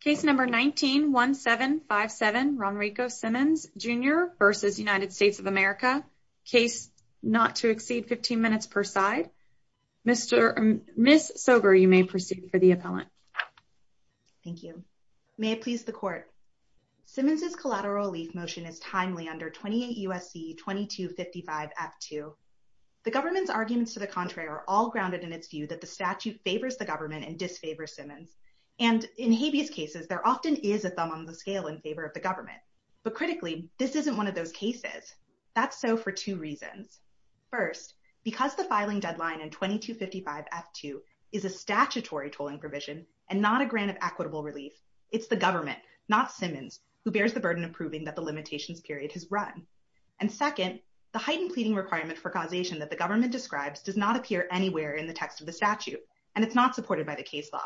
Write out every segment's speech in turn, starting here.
Case No. 19-1757, Ronrico Simmons Jr v. United States of America. Case not to exceed 15 minutes per side. Ms. Sober, you may proceed for the appellant. Thank you. May it please the court. Simmons's collateral relief motion is timely under 28 U.S.C. 2255-F2. The government's arguments to the contrary are all grounded in its view that the statute favors the government and disfavors Simmons. And in habeas cases, there often is a thumb on the scale in favor of the government. But critically, this isn't one of those cases. That's so for two reasons. First, because the filing deadline in 2255-F2 is a statutory tolling provision and not a grant of equitable relief, it's the government, not Simmons, who bears the burden of proving that the limitations period has run. And second, the heightened pleading requirement for causation that the government describes does not appear anywhere in the text of the statute, and it's not supported by the case law.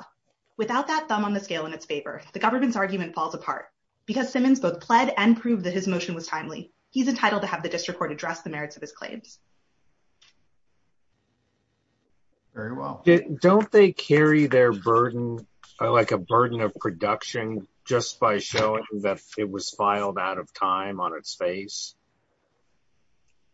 Without that thumb on the scale in its favor, the government's argument falls apart. Because Simmons both pled and proved that his motion was timely, he's entitled to have the district court address the merits of his claims. Very well. Don't they carry their burden, like a burden of production, just by showing that it was filed out of time on its face?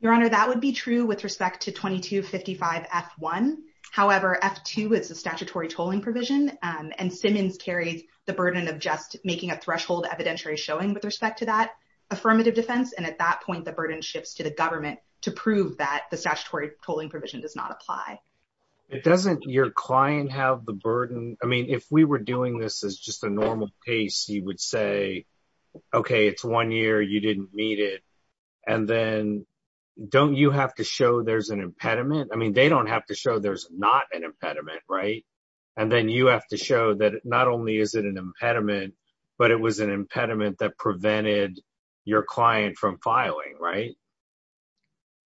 Your Honor, that would be true with respect to 2255-F1. However, F2 is a statutory tolling provision, and Simmons carries the burden of just making a threshold evidentiary showing with respect to that affirmative defense. And at that point, the burden shifts to the government to prove that the statutory tolling provision does not apply. It doesn't your client have the burden? I mean, if we were doing this as just a normal case, he would say, okay, it's one year, you didn't meet it. And then don't you have to show there's an impediment? I mean, they don't have to show there's not an impediment, right? And then you have to show that not only is it an impediment, but it was an impediment that prevented your client from filing, right?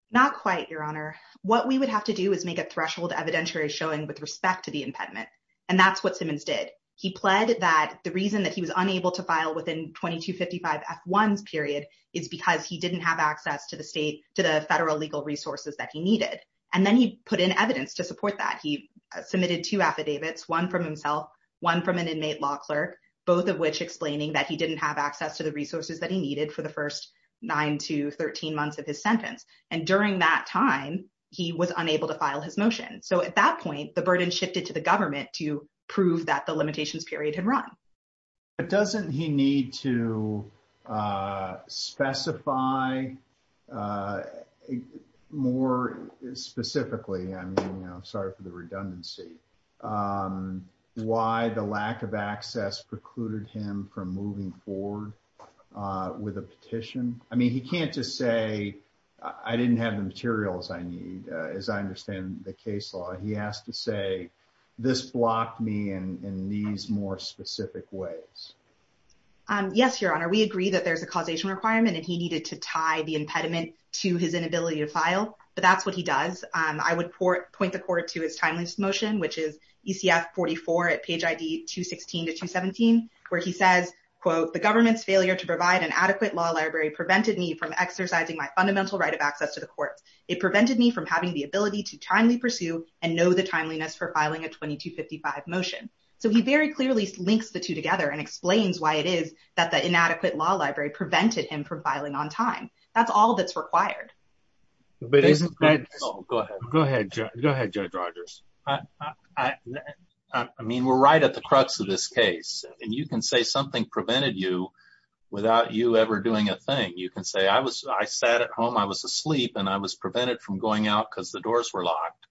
Not quite, Your Honor. What we would have to do is make a threshold evidentiary showing with respect to the impediment. And that's what Simmons did. He pled that the reason that he was unable to file within 2255-F1's period is because he didn't have access to the state, to the federal legal resources that he needed. And then he put in evidence to support that. He submitted two affidavits, one from himself, one from an inmate law clerk, both of which explaining that he didn't have access to the resources that he needed for the first nine to 13 months of his sentence. And during that time, he was unable to file his motion. So at that point, the burden shifted to government to prove that the limitations period had run. But doesn't he need to specify more specifically, I'm sorry for the redundancy, why the lack of access precluded him from moving forward with a petition? I mean, he can't just say, I didn't have the materials I need. As I understand the case law, he has to say, this blocked me in these more specific ways. Yes, Your Honor, we agree that there's a causation requirement, and he needed to tie the impediment to his inability to file. But that's what he does. I would point the court to his timeless motion, which is ECF 44 at page ID 216 to 217, where he says, quote, the government's failure to provide an adequate law library prevented me from exercising my ability to timely pursue and know the timeliness for filing a 2255 motion. So he very clearly links the two together and explains why it is that the inadequate law library prevented him from filing on time. That's all that's required. Go ahead, Judge Rogers. I mean, we're right at the crux of this case. And you can say something prevented you without you ever doing a thing. You can say, I sat at home, I was asleep, and I was prevented from going out because the doors were locked.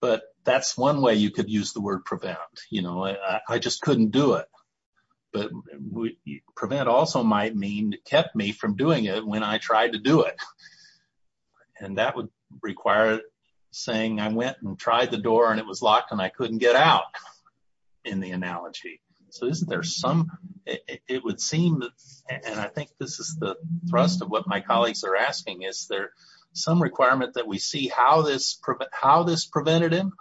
But that's one way you could use the word prevent. You know, I just couldn't do it. But prevent also might mean kept me from doing it when I tried to do it. And that would require saying I went and tried the door and it was locked and I couldn't get out in the analogy. So isn't there some, it would seem, and I think this is the thrust of my colleagues are asking, is there some requirement that we see how this prevented him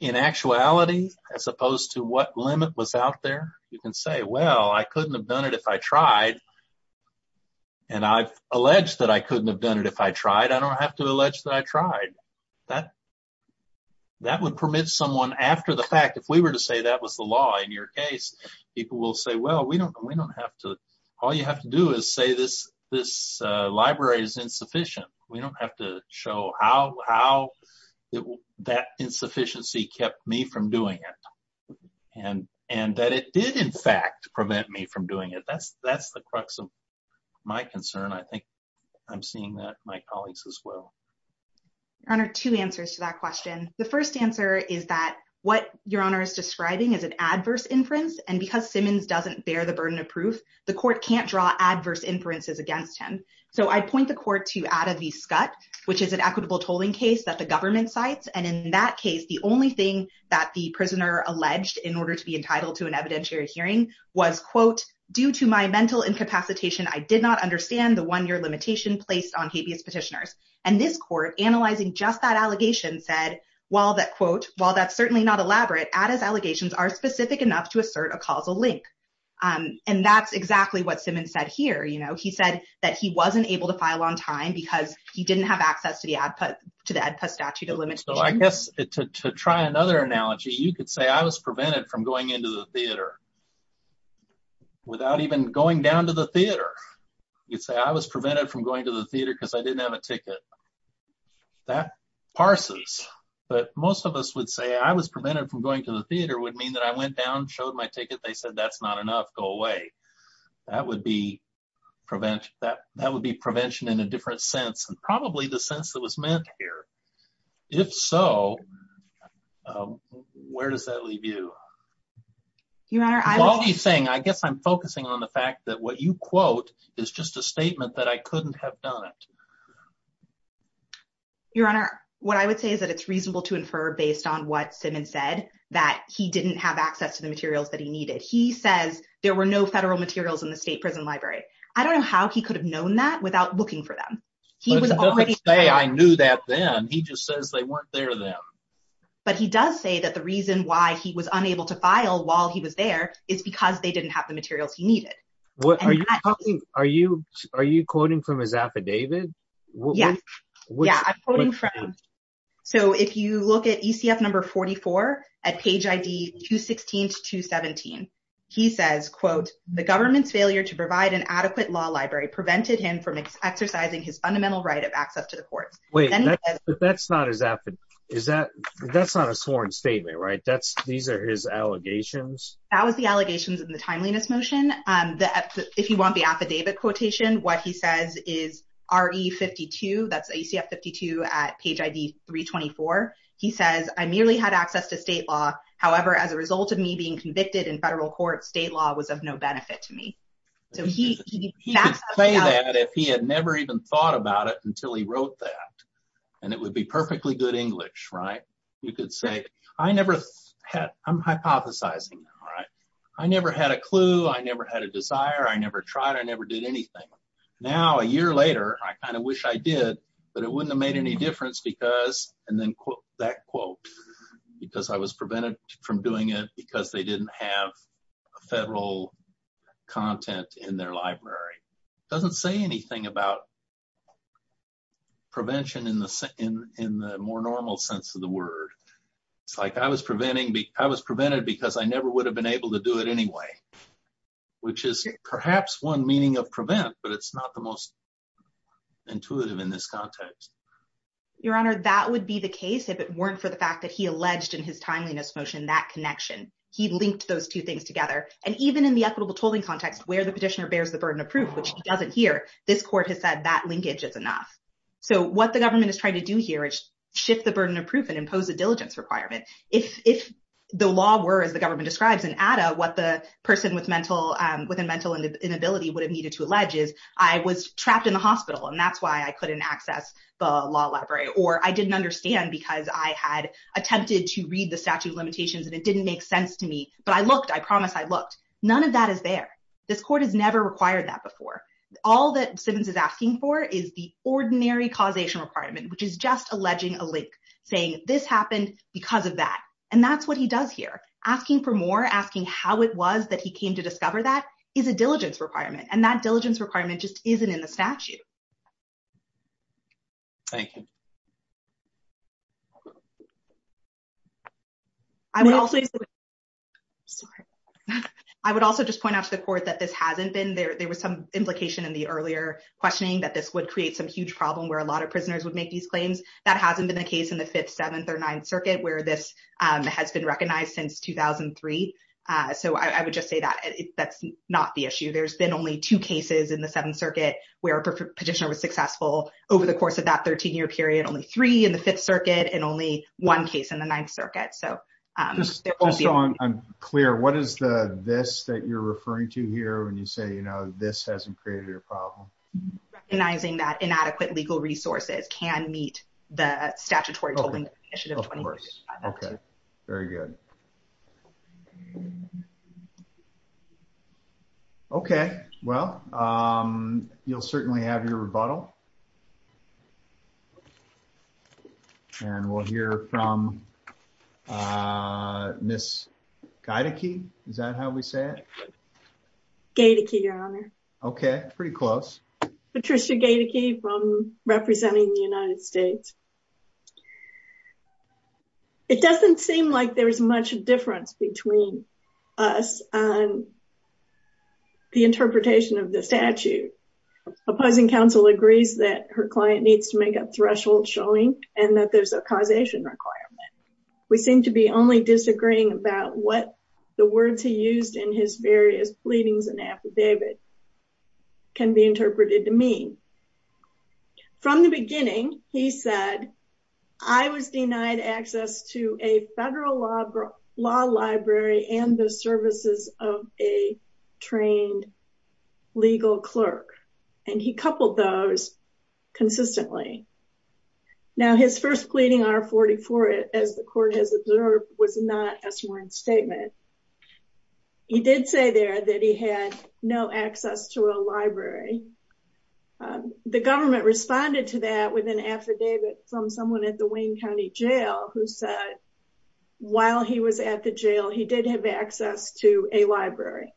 in actuality as opposed to what limit was out there? You can say, well, I couldn't have done it if I tried. And I've alleged that I couldn't have done it if I tried. I don't have to allege that I tried. That would permit someone after the fact, if we were to say that was the law in your case, people will say, well, we don't have to, all you have to do is say this library is insufficient. We don't have to show how that insufficiency kept me from doing it. And that it did in fact prevent me from doing it. That's the crux of my concern. I think I'm seeing that in my colleagues as well. Your Honor, two answers to that question. The first answer is that what because Simmons doesn't bear the burden of proof, the court can't draw adverse inferences against him. So I point the court to out of the scut, which is an equitable tolling case that the government sites. And in that case, the only thing that the prisoner alleged in order to be entitled to an evidentiary hearing was quote, due to my mental incapacitation, I did not understand the one year limitation placed on habeas petitioners. And this court analyzing just that allegation said, while that quote, while that's certainly not elaborate at his allegations are specific enough to assert a causal link. And that's exactly what Simmons said here, you know, he said that he wasn't able to file on time because he didn't have access to the ad put to the statute of limit. So I guess to try another analogy, you could say I was prevented from going into the theater without even going down to the theater. You'd say I was prevented from going to the theater because I didn't have a ticket that parses, but most of us would say I was prevented from going to the theater would mean that I went down showed my ticket. They said, that's not enough go away. That would be prevent that that would be prevention in a different sense, and probably the sense that was meant here. If so, where does that leave you? You are saying I guess I'm focusing on the fact that what you quote is just a statement that I couldn't have done it. Your Honor, what I would say is that it's reasonable to infer based on what Simmons said that he didn't have access to the materials that he needed. He says there were no federal materials in the state prison library. I don't know how he could have known that without looking for them. He was already there. I knew that then he just says they weren't there then. But he does say that the reason why he was unable to file while he was there is because they didn't have the materials he needed. What are you talking? Are you are you quoting from his affidavit? Yes. Yeah, I'm quoting from. So if you look at ECF number 44 at page ID 216 to 217, he says, quote, the government's failure to provide an adequate law library prevented him from exercising his fundamental right of access to the courts. Wait, that's not his effort. Is that that's not a sworn statement, right? That's these are his allegations. That was the allegations in the timeliness motion. If you want the affidavit quotation, what he says is R.E. 52. That's ECF 52 at page ID 324. He says, I merely had access to state law. However, as a result of me being convicted in federal court, state law was of no benefit to me. So he could say that if he had never even thought about it until he wrote that and it would be perfectly good English, right? You could say, I never had I'm hypothesizing, right? I never had a clue. I never had a desire. I never tried. I never did anything. Now, a year later, I kind of wish I did, but it wouldn't have made any difference because and then quote that quote, because I was prevented from doing it because they didn't have federal content in their library. It doesn't say anything about prevention in the in the more normal sense of the word. It's like I was preventing me. I was prevented because I never would have been able to do it anyway, which is perhaps one meaning of prevent, but it's not the most intuitive in this context. Your honor, that would be the case if it weren't for the fact that he alleged in his timeliness motion, that connection, he linked those two things together. And even in the equitable tolling context, where the petitioner bears the burden of proof, which he doesn't hear, this court has said that linkage is enough. So what the government is trying to do here is shift the burden of proof and impose a diligence requirement. If the law were as the government describes and add up what the person with mental with a mental inability would have needed to allege is I was trapped in the hospital and that's why I couldn't access the law library or I didn't understand because I had attempted to read the statute of limitations and it didn't make sense to me, but I looked, I promise I looked. None of that is there. This court has never required that before. All that Simmons is asking for is the ordinary causation requirement, which is just alleging a link saying this happened because of that. And that's what he does here. Asking for more, asking how it was that he came to discover that is a diligence requirement. And that diligence requirement just isn't in the statute. Thank you. I would also just point out to the court that this hasn't been there. There was some implication in the earlier questioning that this would create some huge problem where a lot of prisoners would make these claims. That hasn't been the case in the fifth, seventh or ninth circuit where this has been recognized since 2003. So I would just say that that's not the issue. There's been only two cases in the seventh circuit where petitioner was successful over the course of that 13 year period, only three in the fifth circuit and only one case in the ninth circuit. I'm clear. What is the, this that you're referring to here when you say, you know, this hasn't created a problem. Recognizing that inadequate legal resources can meet the statutory. Okay. Very good. Okay. Well you'll certainly have your rebuttal. And we'll hear from Ms. Gaidicke. Is that how we say it? Gaidicke, your honor. Okay. Pretty close. Patricia Gaidicke from representing the United States. It doesn't seem like there's much difference between us and the interpretation of the statute. Opposing counsel agrees that her client needs to make a threshold showing and that there's a causation requirement. We seem to be only disagreeing about what the words he used in his various pleadings and affidavit can be interpreted to mean. From the beginning, he said, I was denied access to a federal law library and the services of a trained legal clerk. And he coupled those consistently. Now his first pleading R44, as the court has observed, was not a sworn statement. He did say there that he had no access to a library. The government responded to that with an affidavit from someone at the Wayne County jail who said, while he was at the jail, he did have access to a library.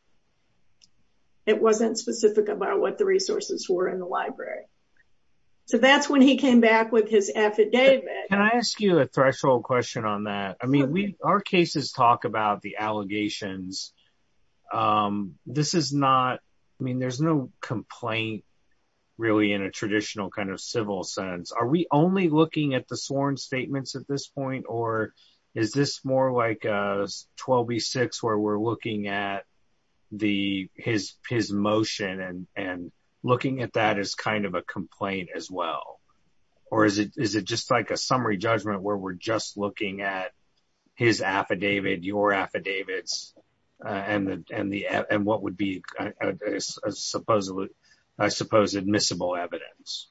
It wasn't specific about what the resources were in the library. So that's when he came back with his affidavit. Can I ask you a threshold question on that? I mean, our cases talk about the allegations. This is not, I mean, there's no complaint really in a traditional kind of civil sense. Are we only looking at the sworn statements at this point? Or is this more like 12B6 where we're looking at his motion and looking at that as kind of a complaint as well? Or is it just like a summary judgment where we're just looking at his affidavit, your affidavits, and what would be a supposed admissible evidence?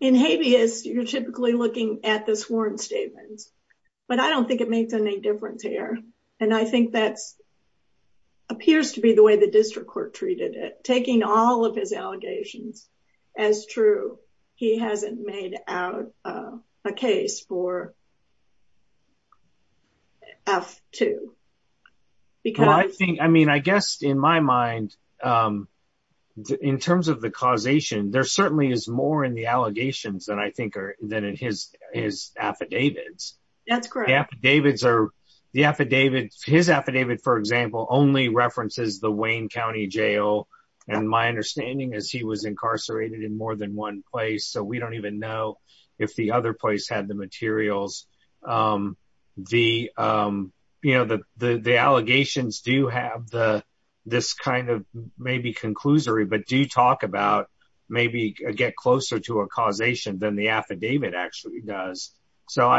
In habeas, you're typically looking at the sworn statements. But I don't think it makes any difference here. And I think that appears to be the way the district court treated it. Taking all his allegations as true, he hasn't made out a case for F-2. I mean, I guess in my mind, in terms of the causation, there certainly is more in the allegations than I think are than in his affidavits. That's correct. The affidavits, his affidavit, for example, only references the Wayne County Jail. And my understanding is he was incarcerated in more than one place. So we don't even know if the other place had the materials. The allegations do have this kind of maybe conclusory, but do talk about maybe get closer to a causation than the affidavit actually does. So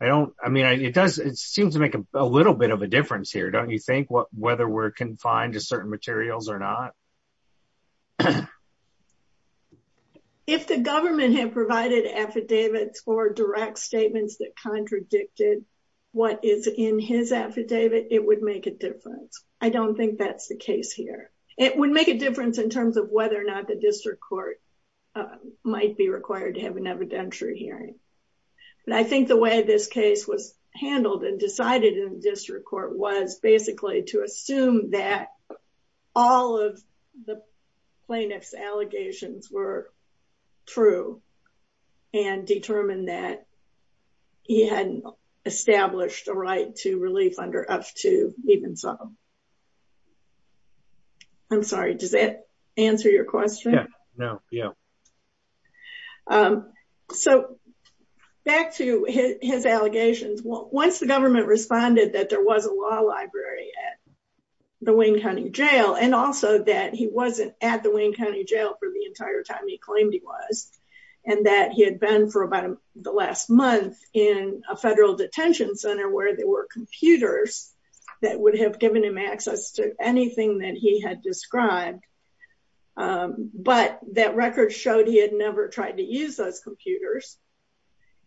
it seems to make a little bit of a difference here, don't you think, whether we're confined to certain materials or not? If the government had provided affidavits or direct statements that contradicted what is in his affidavit, it would make a difference. I don't think that's the case here. It would make a difference in terms of whether or not the district court might be required to have an evidentiary hearing. And I think the way this case was handled and decided in the district court was basically to assume that all of the plaintiff's allegations were true and determine that he hadn't established a right to relief under up to even some. I'm sorry, does that answer your question? Yeah, no, yeah. So back to his allegations, once the government responded that there was a law library at the Wayne County Jail, and also that he wasn't at the Wayne County Jail for the entire time he claimed he was, and that he had been for about the last month in a federal detention center where there were computers that would have given him access to anything that he had described. But that record showed he had never tried to use those computers.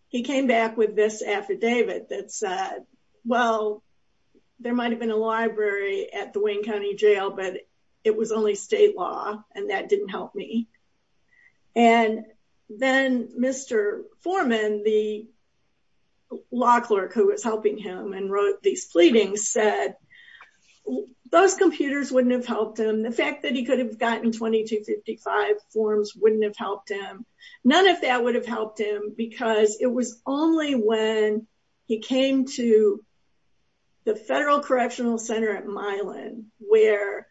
He came back with this affidavit that said, well, there might have been a library at the Wayne County Jail, but it was only state and that didn't help me. And then Mr. Foreman, the law clerk who was helping him and wrote these pleadings, said those computers wouldn't have helped him. The fact that he could have gotten 2255 forms wouldn't have helped him. None of that would have helped him because it was only when he came to the Federal Correctional Center at Milan, where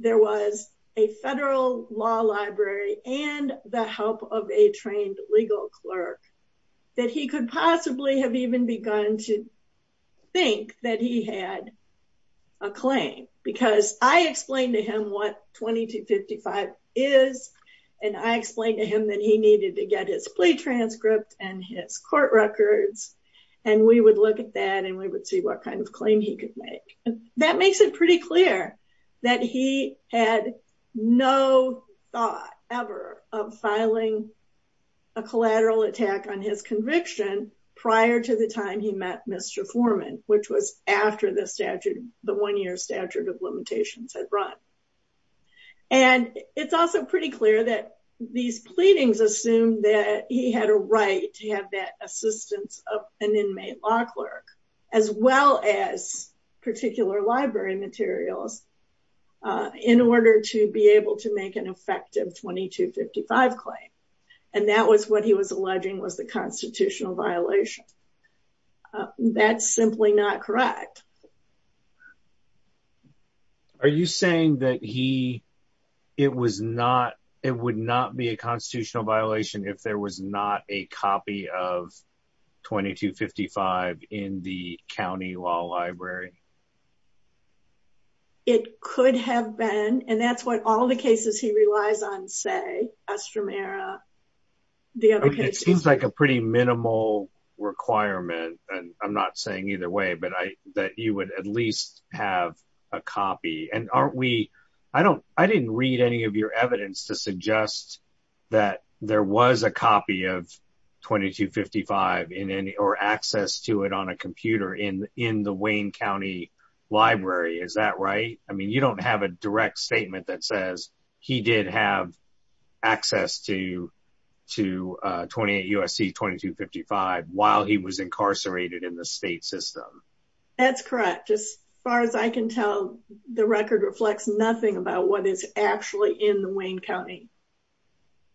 there was a federal law library and the help of a trained legal clerk, that he could possibly have even begun to think that he had a claim. Because I explained to him what 2255 is, and I explained to him that he needed to get his plea transcript and his court records, and we would look at that and we would see what kind of claim he could make. That makes it pretty clear that he had no thought ever of filing a collateral attack on his conviction prior to the time he met Mr. Foreman, which was after the statute, the one-year statute of limitations had run. And it's also pretty clear that these he had a right to have that assistance of an inmate law clerk, as well as particular library materials, in order to be able to make an effective 2255 claim. And that was what he was alleging was the constitutional violation. That's simply not correct. Are you saying that he, it was not, it would not be a constitutional violation if there was not a copy of 2255 in the county law library? It could have been, and that's what all the cases he relies on say, Estramera, the other cases. It seems like a pretty minimal requirement, and I'm not saying either way, but I, that you would at least have a copy. And aren't we, I don't, I didn't read any of your evidence to suggest that there was a copy of 2255 in any, or access to it on a computer in, in the Wayne County library. Is that right? I mean, you don't have a direct statement that says he did have access to, to 28 USC 2255 while he was incarcerated in the state system. That's correct. As far as I can tell, the record reflects nothing about what is actually in the Wayne County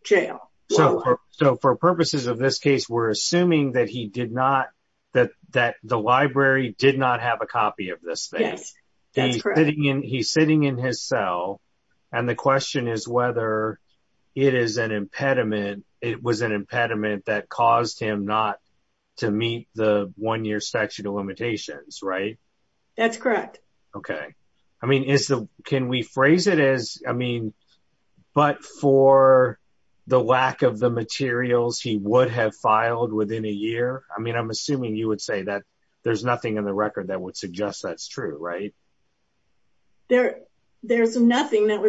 jail. So, so for purposes of this case, we're assuming that he did not, that, that the library did not have a copy of this thing. He's sitting in, he's sitting in his cell, and the question is whether it is an impediment. It was an impediment that caused him not to meet the one-year statute of limitations, right? That's correct. Okay. I mean, is the, can we phrase it as, I mean, but for the lack of the materials he would have filed within a year? I mean, I'm assuming you would say that there's nothing in the record that would suggest that's that would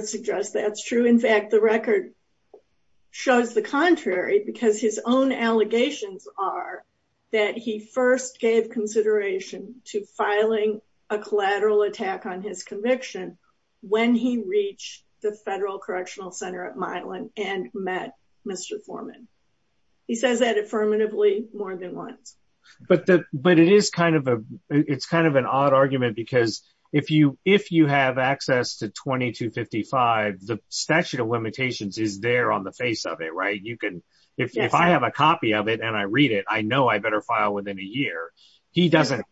suggest that's true. In fact, the record shows the contrary because his own allegations are that he first gave consideration to filing a collateral attack on his conviction when he reached the federal correctional center at Milan and met Mr. Foreman. He says that affirmatively more than once. But the, but it is kind of a, it's kind of an odd argument because if you, if you have access to 2255, the statute of limitations is there on the face of it, right? You can, if I have a copy of it and I read it, I know I better file within a year. He doesn't,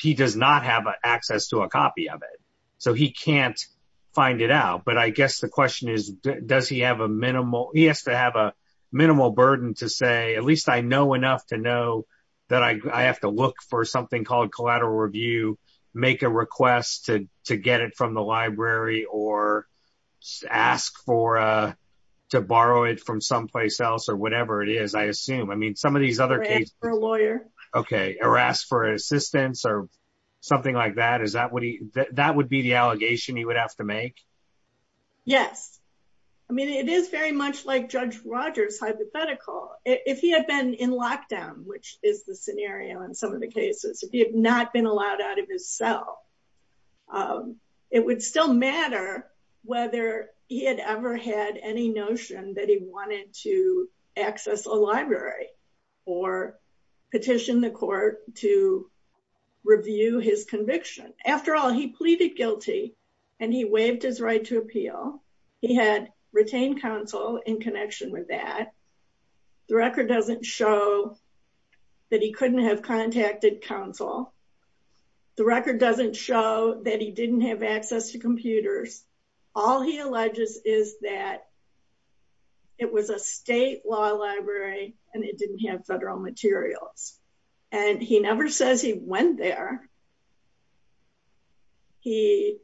he does not have access to a copy of it, so he can't find it out. But I guess the question is, does he have a minimal, he has to have a minimal burden to say, at least I know enough to know that I have to look for something called collateral review, make a request to get it from the library or ask for, to borrow it from someplace else or whatever it is, I assume. I mean, some of these other cases. Or ask for a lawyer. Okay. Or ask for assistance or something like that. Is that what he, that would be the allegation he would have to make? Yes. I mean, it is very much like Judge Rogers hypothetical. If he had been in lockdown, which is the scenario in some of the cases, if he had not been allowed out of his cell, it would still matter whether he had ever had any notion that he wanted to access a library or petition the court to review his conviction. After all, he pleaded guilty and he waived his right to appeal. He had retained counsel in connection with that. The record doesn't show that he couldn't have contacted counsel. The record doesn't show that he didn't have access to computers. All he alleges is that it was a state law library and it didn't have federal materials. And he never says he went there. He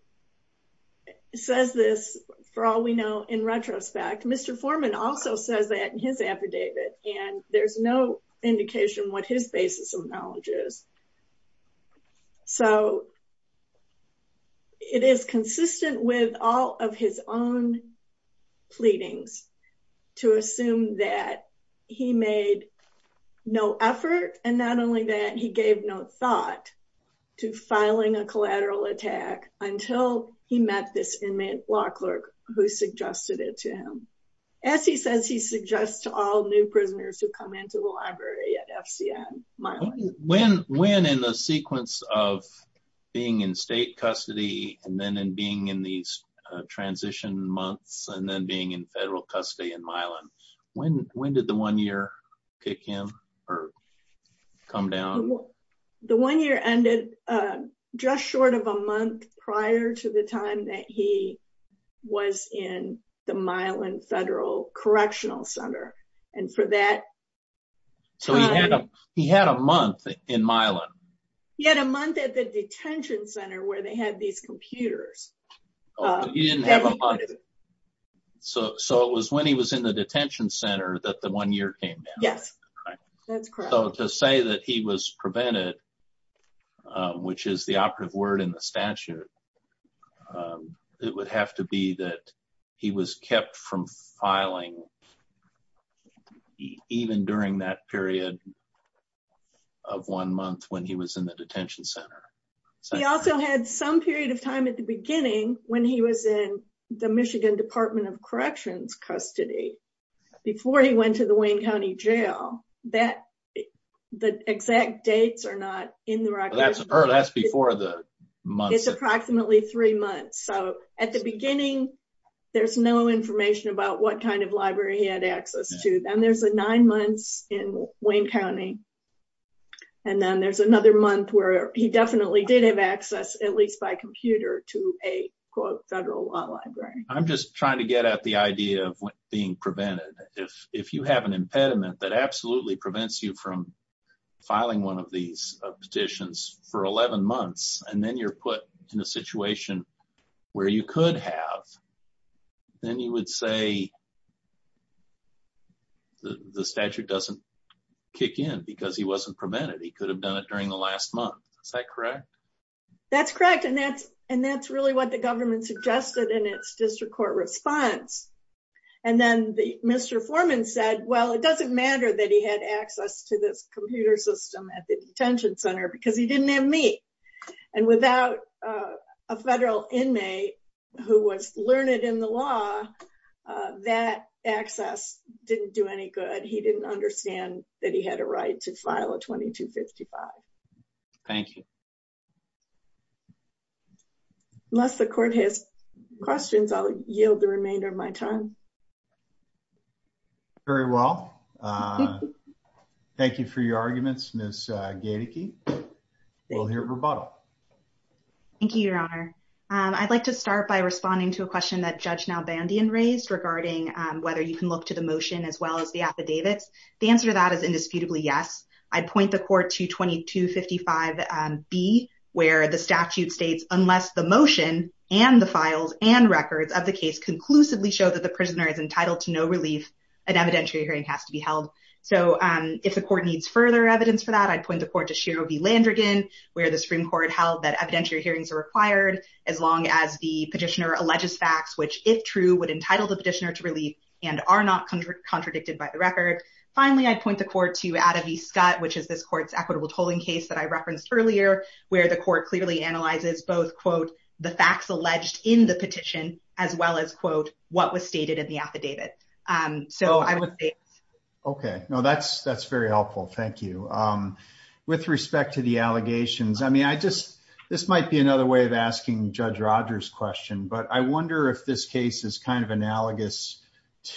says this, for all we know, in retrospect, Mr. Foreman also says that in his affidavit, and there's no indication what his basis of knowledge is. So, it is consistent with all of his own pleadings to assume that he made no effort and not only that to filing a collateral attack until he met this inmate law clerk who suggested it to him. As he says, he suggests to all new prisoners who come into the library at FCN, Milan. When in the sequence of being in state custody and then being in these transition months and then being in federal custody in Milan, when did the one year kick in or come down? The one year ended just short of a month prior to the time that he was in the Milan Federal Correctional Center. And for that time... So, he had a month in Milan. He had a month at the detention center where they had these computers. He didn't have a month. So, it was when he was the detention center that the one year came down. Yes, that's correct. So, to say that he was prevented, which is the operative word in the statute, it would have to be that he was kept from filing even during that period of one month when he was in the detention center. He also had some period of time at the beginning when he was in the Michigan Department of before he went to the Wayne County Jail. The exact dates are not in the record. That's before the month. It's approximately three months. So, at the beginning, there's no information about what kind of library he had access to. Then there's a nine months in Wayne County. And then there's another month where he definitely did have access, at least by computer, to a federal law library. I'm just trying to get at the idea of being prevented. If you have an impediment that absolutely prevents you from filing one of these petitions for 11 months, and then you're put in a situation where you could have, then you would say the statute doesn't kick in because he wasn't prevented. He could have done it during the last month. Is that correct? That's correct. And that's really what the government suggested in its district court response. And then the Mr. Foreman said, well, it doesn't matter that he had access to this computer system at the detention center because he didn't have me. And without a federal inmate who was learned in the law, that access didn't do any good. He didn't understand that he had a right to file a 2255. Thank you. Unless the court has questions, I'll yield the remainder of my time. Very well. Thank you for your arguments, Ms. Gaedeke. We'll hear rebuttal. Thank you, Your Honor. I'd like to start by responding to a question that Judge Nalbandian raised regarding whether you can look to the motion as well as the affidavits. The answer to that is indisputably yes. I'd point the court to 2255B, where the statute states unless the motion and the files and records of the case conclusively show that the prisoner is entitled to no relief, an evidentiary hearing has to be held. So if the court needs further evidence for that, I'd point the court to Shero v. Landrigan, where the Supreme Court held that evidentiary hearings are required as long as the petitioner alleges facts which, if true, would entitle the petitioner to relief and are not contradicted by the record. Finally, I'd point the court to Atta v. Scott, which is this court's equitable tolling case that I referenced earlier, where the court clearly analyzes both, quote, the facts alleged in the petition as well as, quote, what was stated in the affidavit. So I would say... Okay. No, that's very helpful. Thank you. With respect to the allegations, I mean, I just... This might be another way of asking Judge Rogers' question, but I wonder if this case is kind of analogous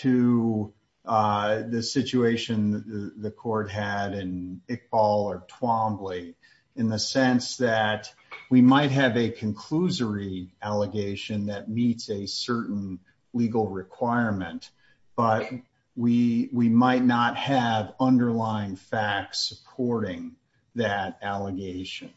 to the situation the court had in Iqbal or Twombly, in the sense that we might have a conclusory allegation that meets a certain legal requirement, but we might not have underlying facts supporting that allegation.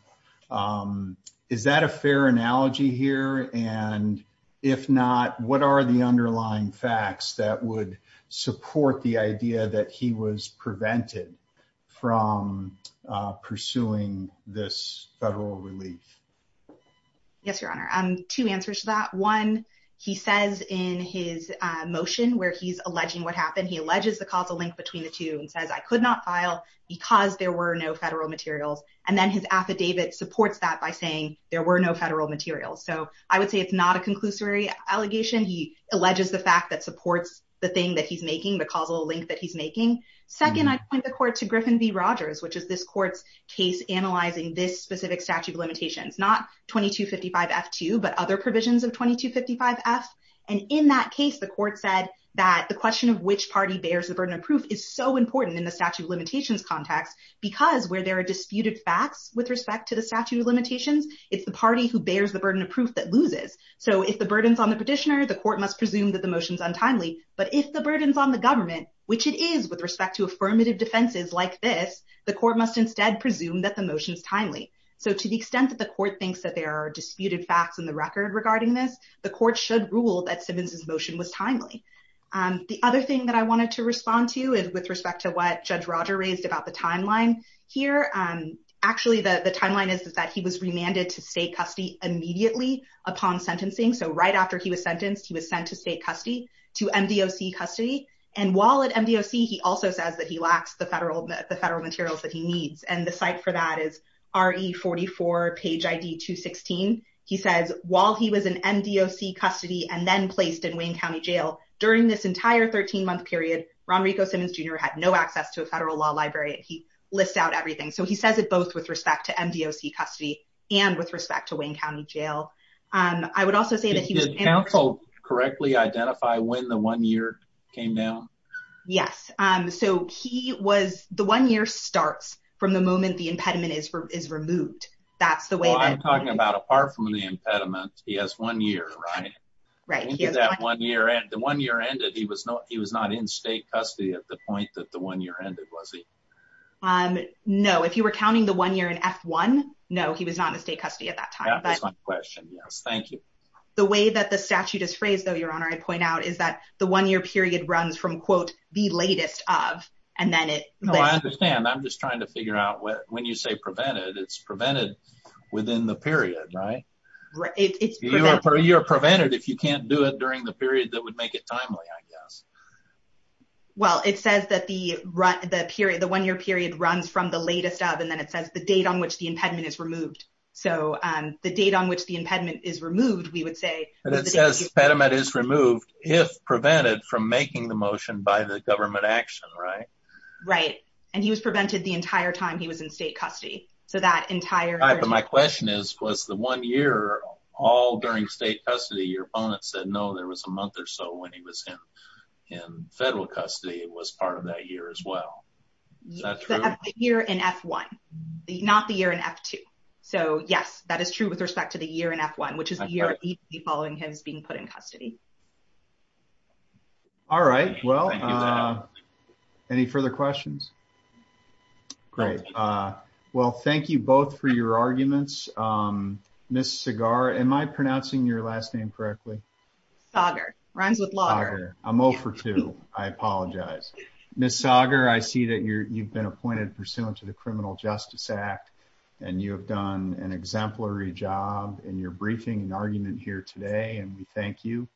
Is that a fair analogy here? And if not, what are the underlying facts that would support the idea that he was prevented from pursuing this federal relief? Yes, Your Honor. Two answers to that. One, he says in his motion where he's alleging what happened, he alleges the causal link between the two and says, I could not file because there were no federal materials. And then his affidavit supports that by saying there were no federal materials. So I would say it's not a conclusory allegation. He alleges the fact that supports the thing that he's making, the causal link that he's making. Second, I point the court to Griffin v. Rogers, which is this court's case analyzing this specific statute of limitations, not 2255F2, but other provisions of 2255F. And in that case, the court said that the question of which party bears the burden of proof is so important in the statute of limitations context, because where there are disputed facts with respect to the statute of limitations, it's the party who bears the burden of proof that loses. So if the burden's on the petitioner, the court must presume that the motion's untimely. But if the burden's on the government, which it is with respect to affirmative defenses like this, the court must instead presume that motion's timely. So to the extent that the court thinks that there are disputed facts in the record regarding this, the court should rule that Simmons's motion was timely. The other thing that I wanted to respond to is with respect to what Judge Roger raised about the timeline here. Actually, the timeline is that he was remanded to state custody immediately upon sentencing. So right after he was sentenced, he was sent to state custody, to MDOC custody. And while at MDOC, he also says that he lacks the federal materials that he needs. And the site for that is RE44 page ID 216. He says, while he was in MDOC custody and then placed in Wayne County Jail, during this entire 13-month period, Ron Rico Simmons Jr. had no access to a federal law library. He lists out everything. So he says it both with respect to MDOC custody and with respect to Wayne County Jail. I would also say that he was- Did counsel correctly identify when the one year came down? Yes. So the one year starts from the moment the impediment is removed. That's the way that- Well, I'm talking about apart from the impediment, he has one year, right? Right. The one year ended, he was not in state custody at the point that the one year ended, was he? No. If you were counting the one year in F1, no, he was not in state custody at that time. That is my question. Yes. Thank you. The way that the statute is phrased, though, the one year period runs from, quote, the latest of, and then it- No, I understand. I'm just trying to figure out when you say prevented, it's prevented within the period, right? You're prevented if you can't do it during the period that would make it timely, I guess. Well, it says that the one year period runs from the latest of, and then it says the date on which the impediment is removed. So the date on which the impediment is removed, we would say- And it says impediment is removed if prevented from making the motion by the government action, right? Right. And he was prevented the entire time he was in state custody. So that entire- But my question is, was the one year all during state custody, your opponent said no, there was a month or so when he was in federal custody, it was part of that year as well. Is that true? The year in F1, not the year in F2. So yes, that is true with respect to the year in F1, which is the year following his being put in state custody. All right. Well, any further questions? Great. Well, thank you both for your arguments. Ms. Sagar, am I pronouncing your last name correctly? Sagar, rhymes with lager. I'm 0 for 2, I apologize. Ms. Sagar, I see that you've been appointed pursuant to the Criminal Justice Act, and you have done an exemplary job in your briefing and argument here today, and we thank you.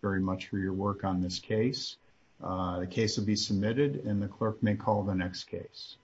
Very much for your work on this case. The case will be submitted and the clerk may call the next case.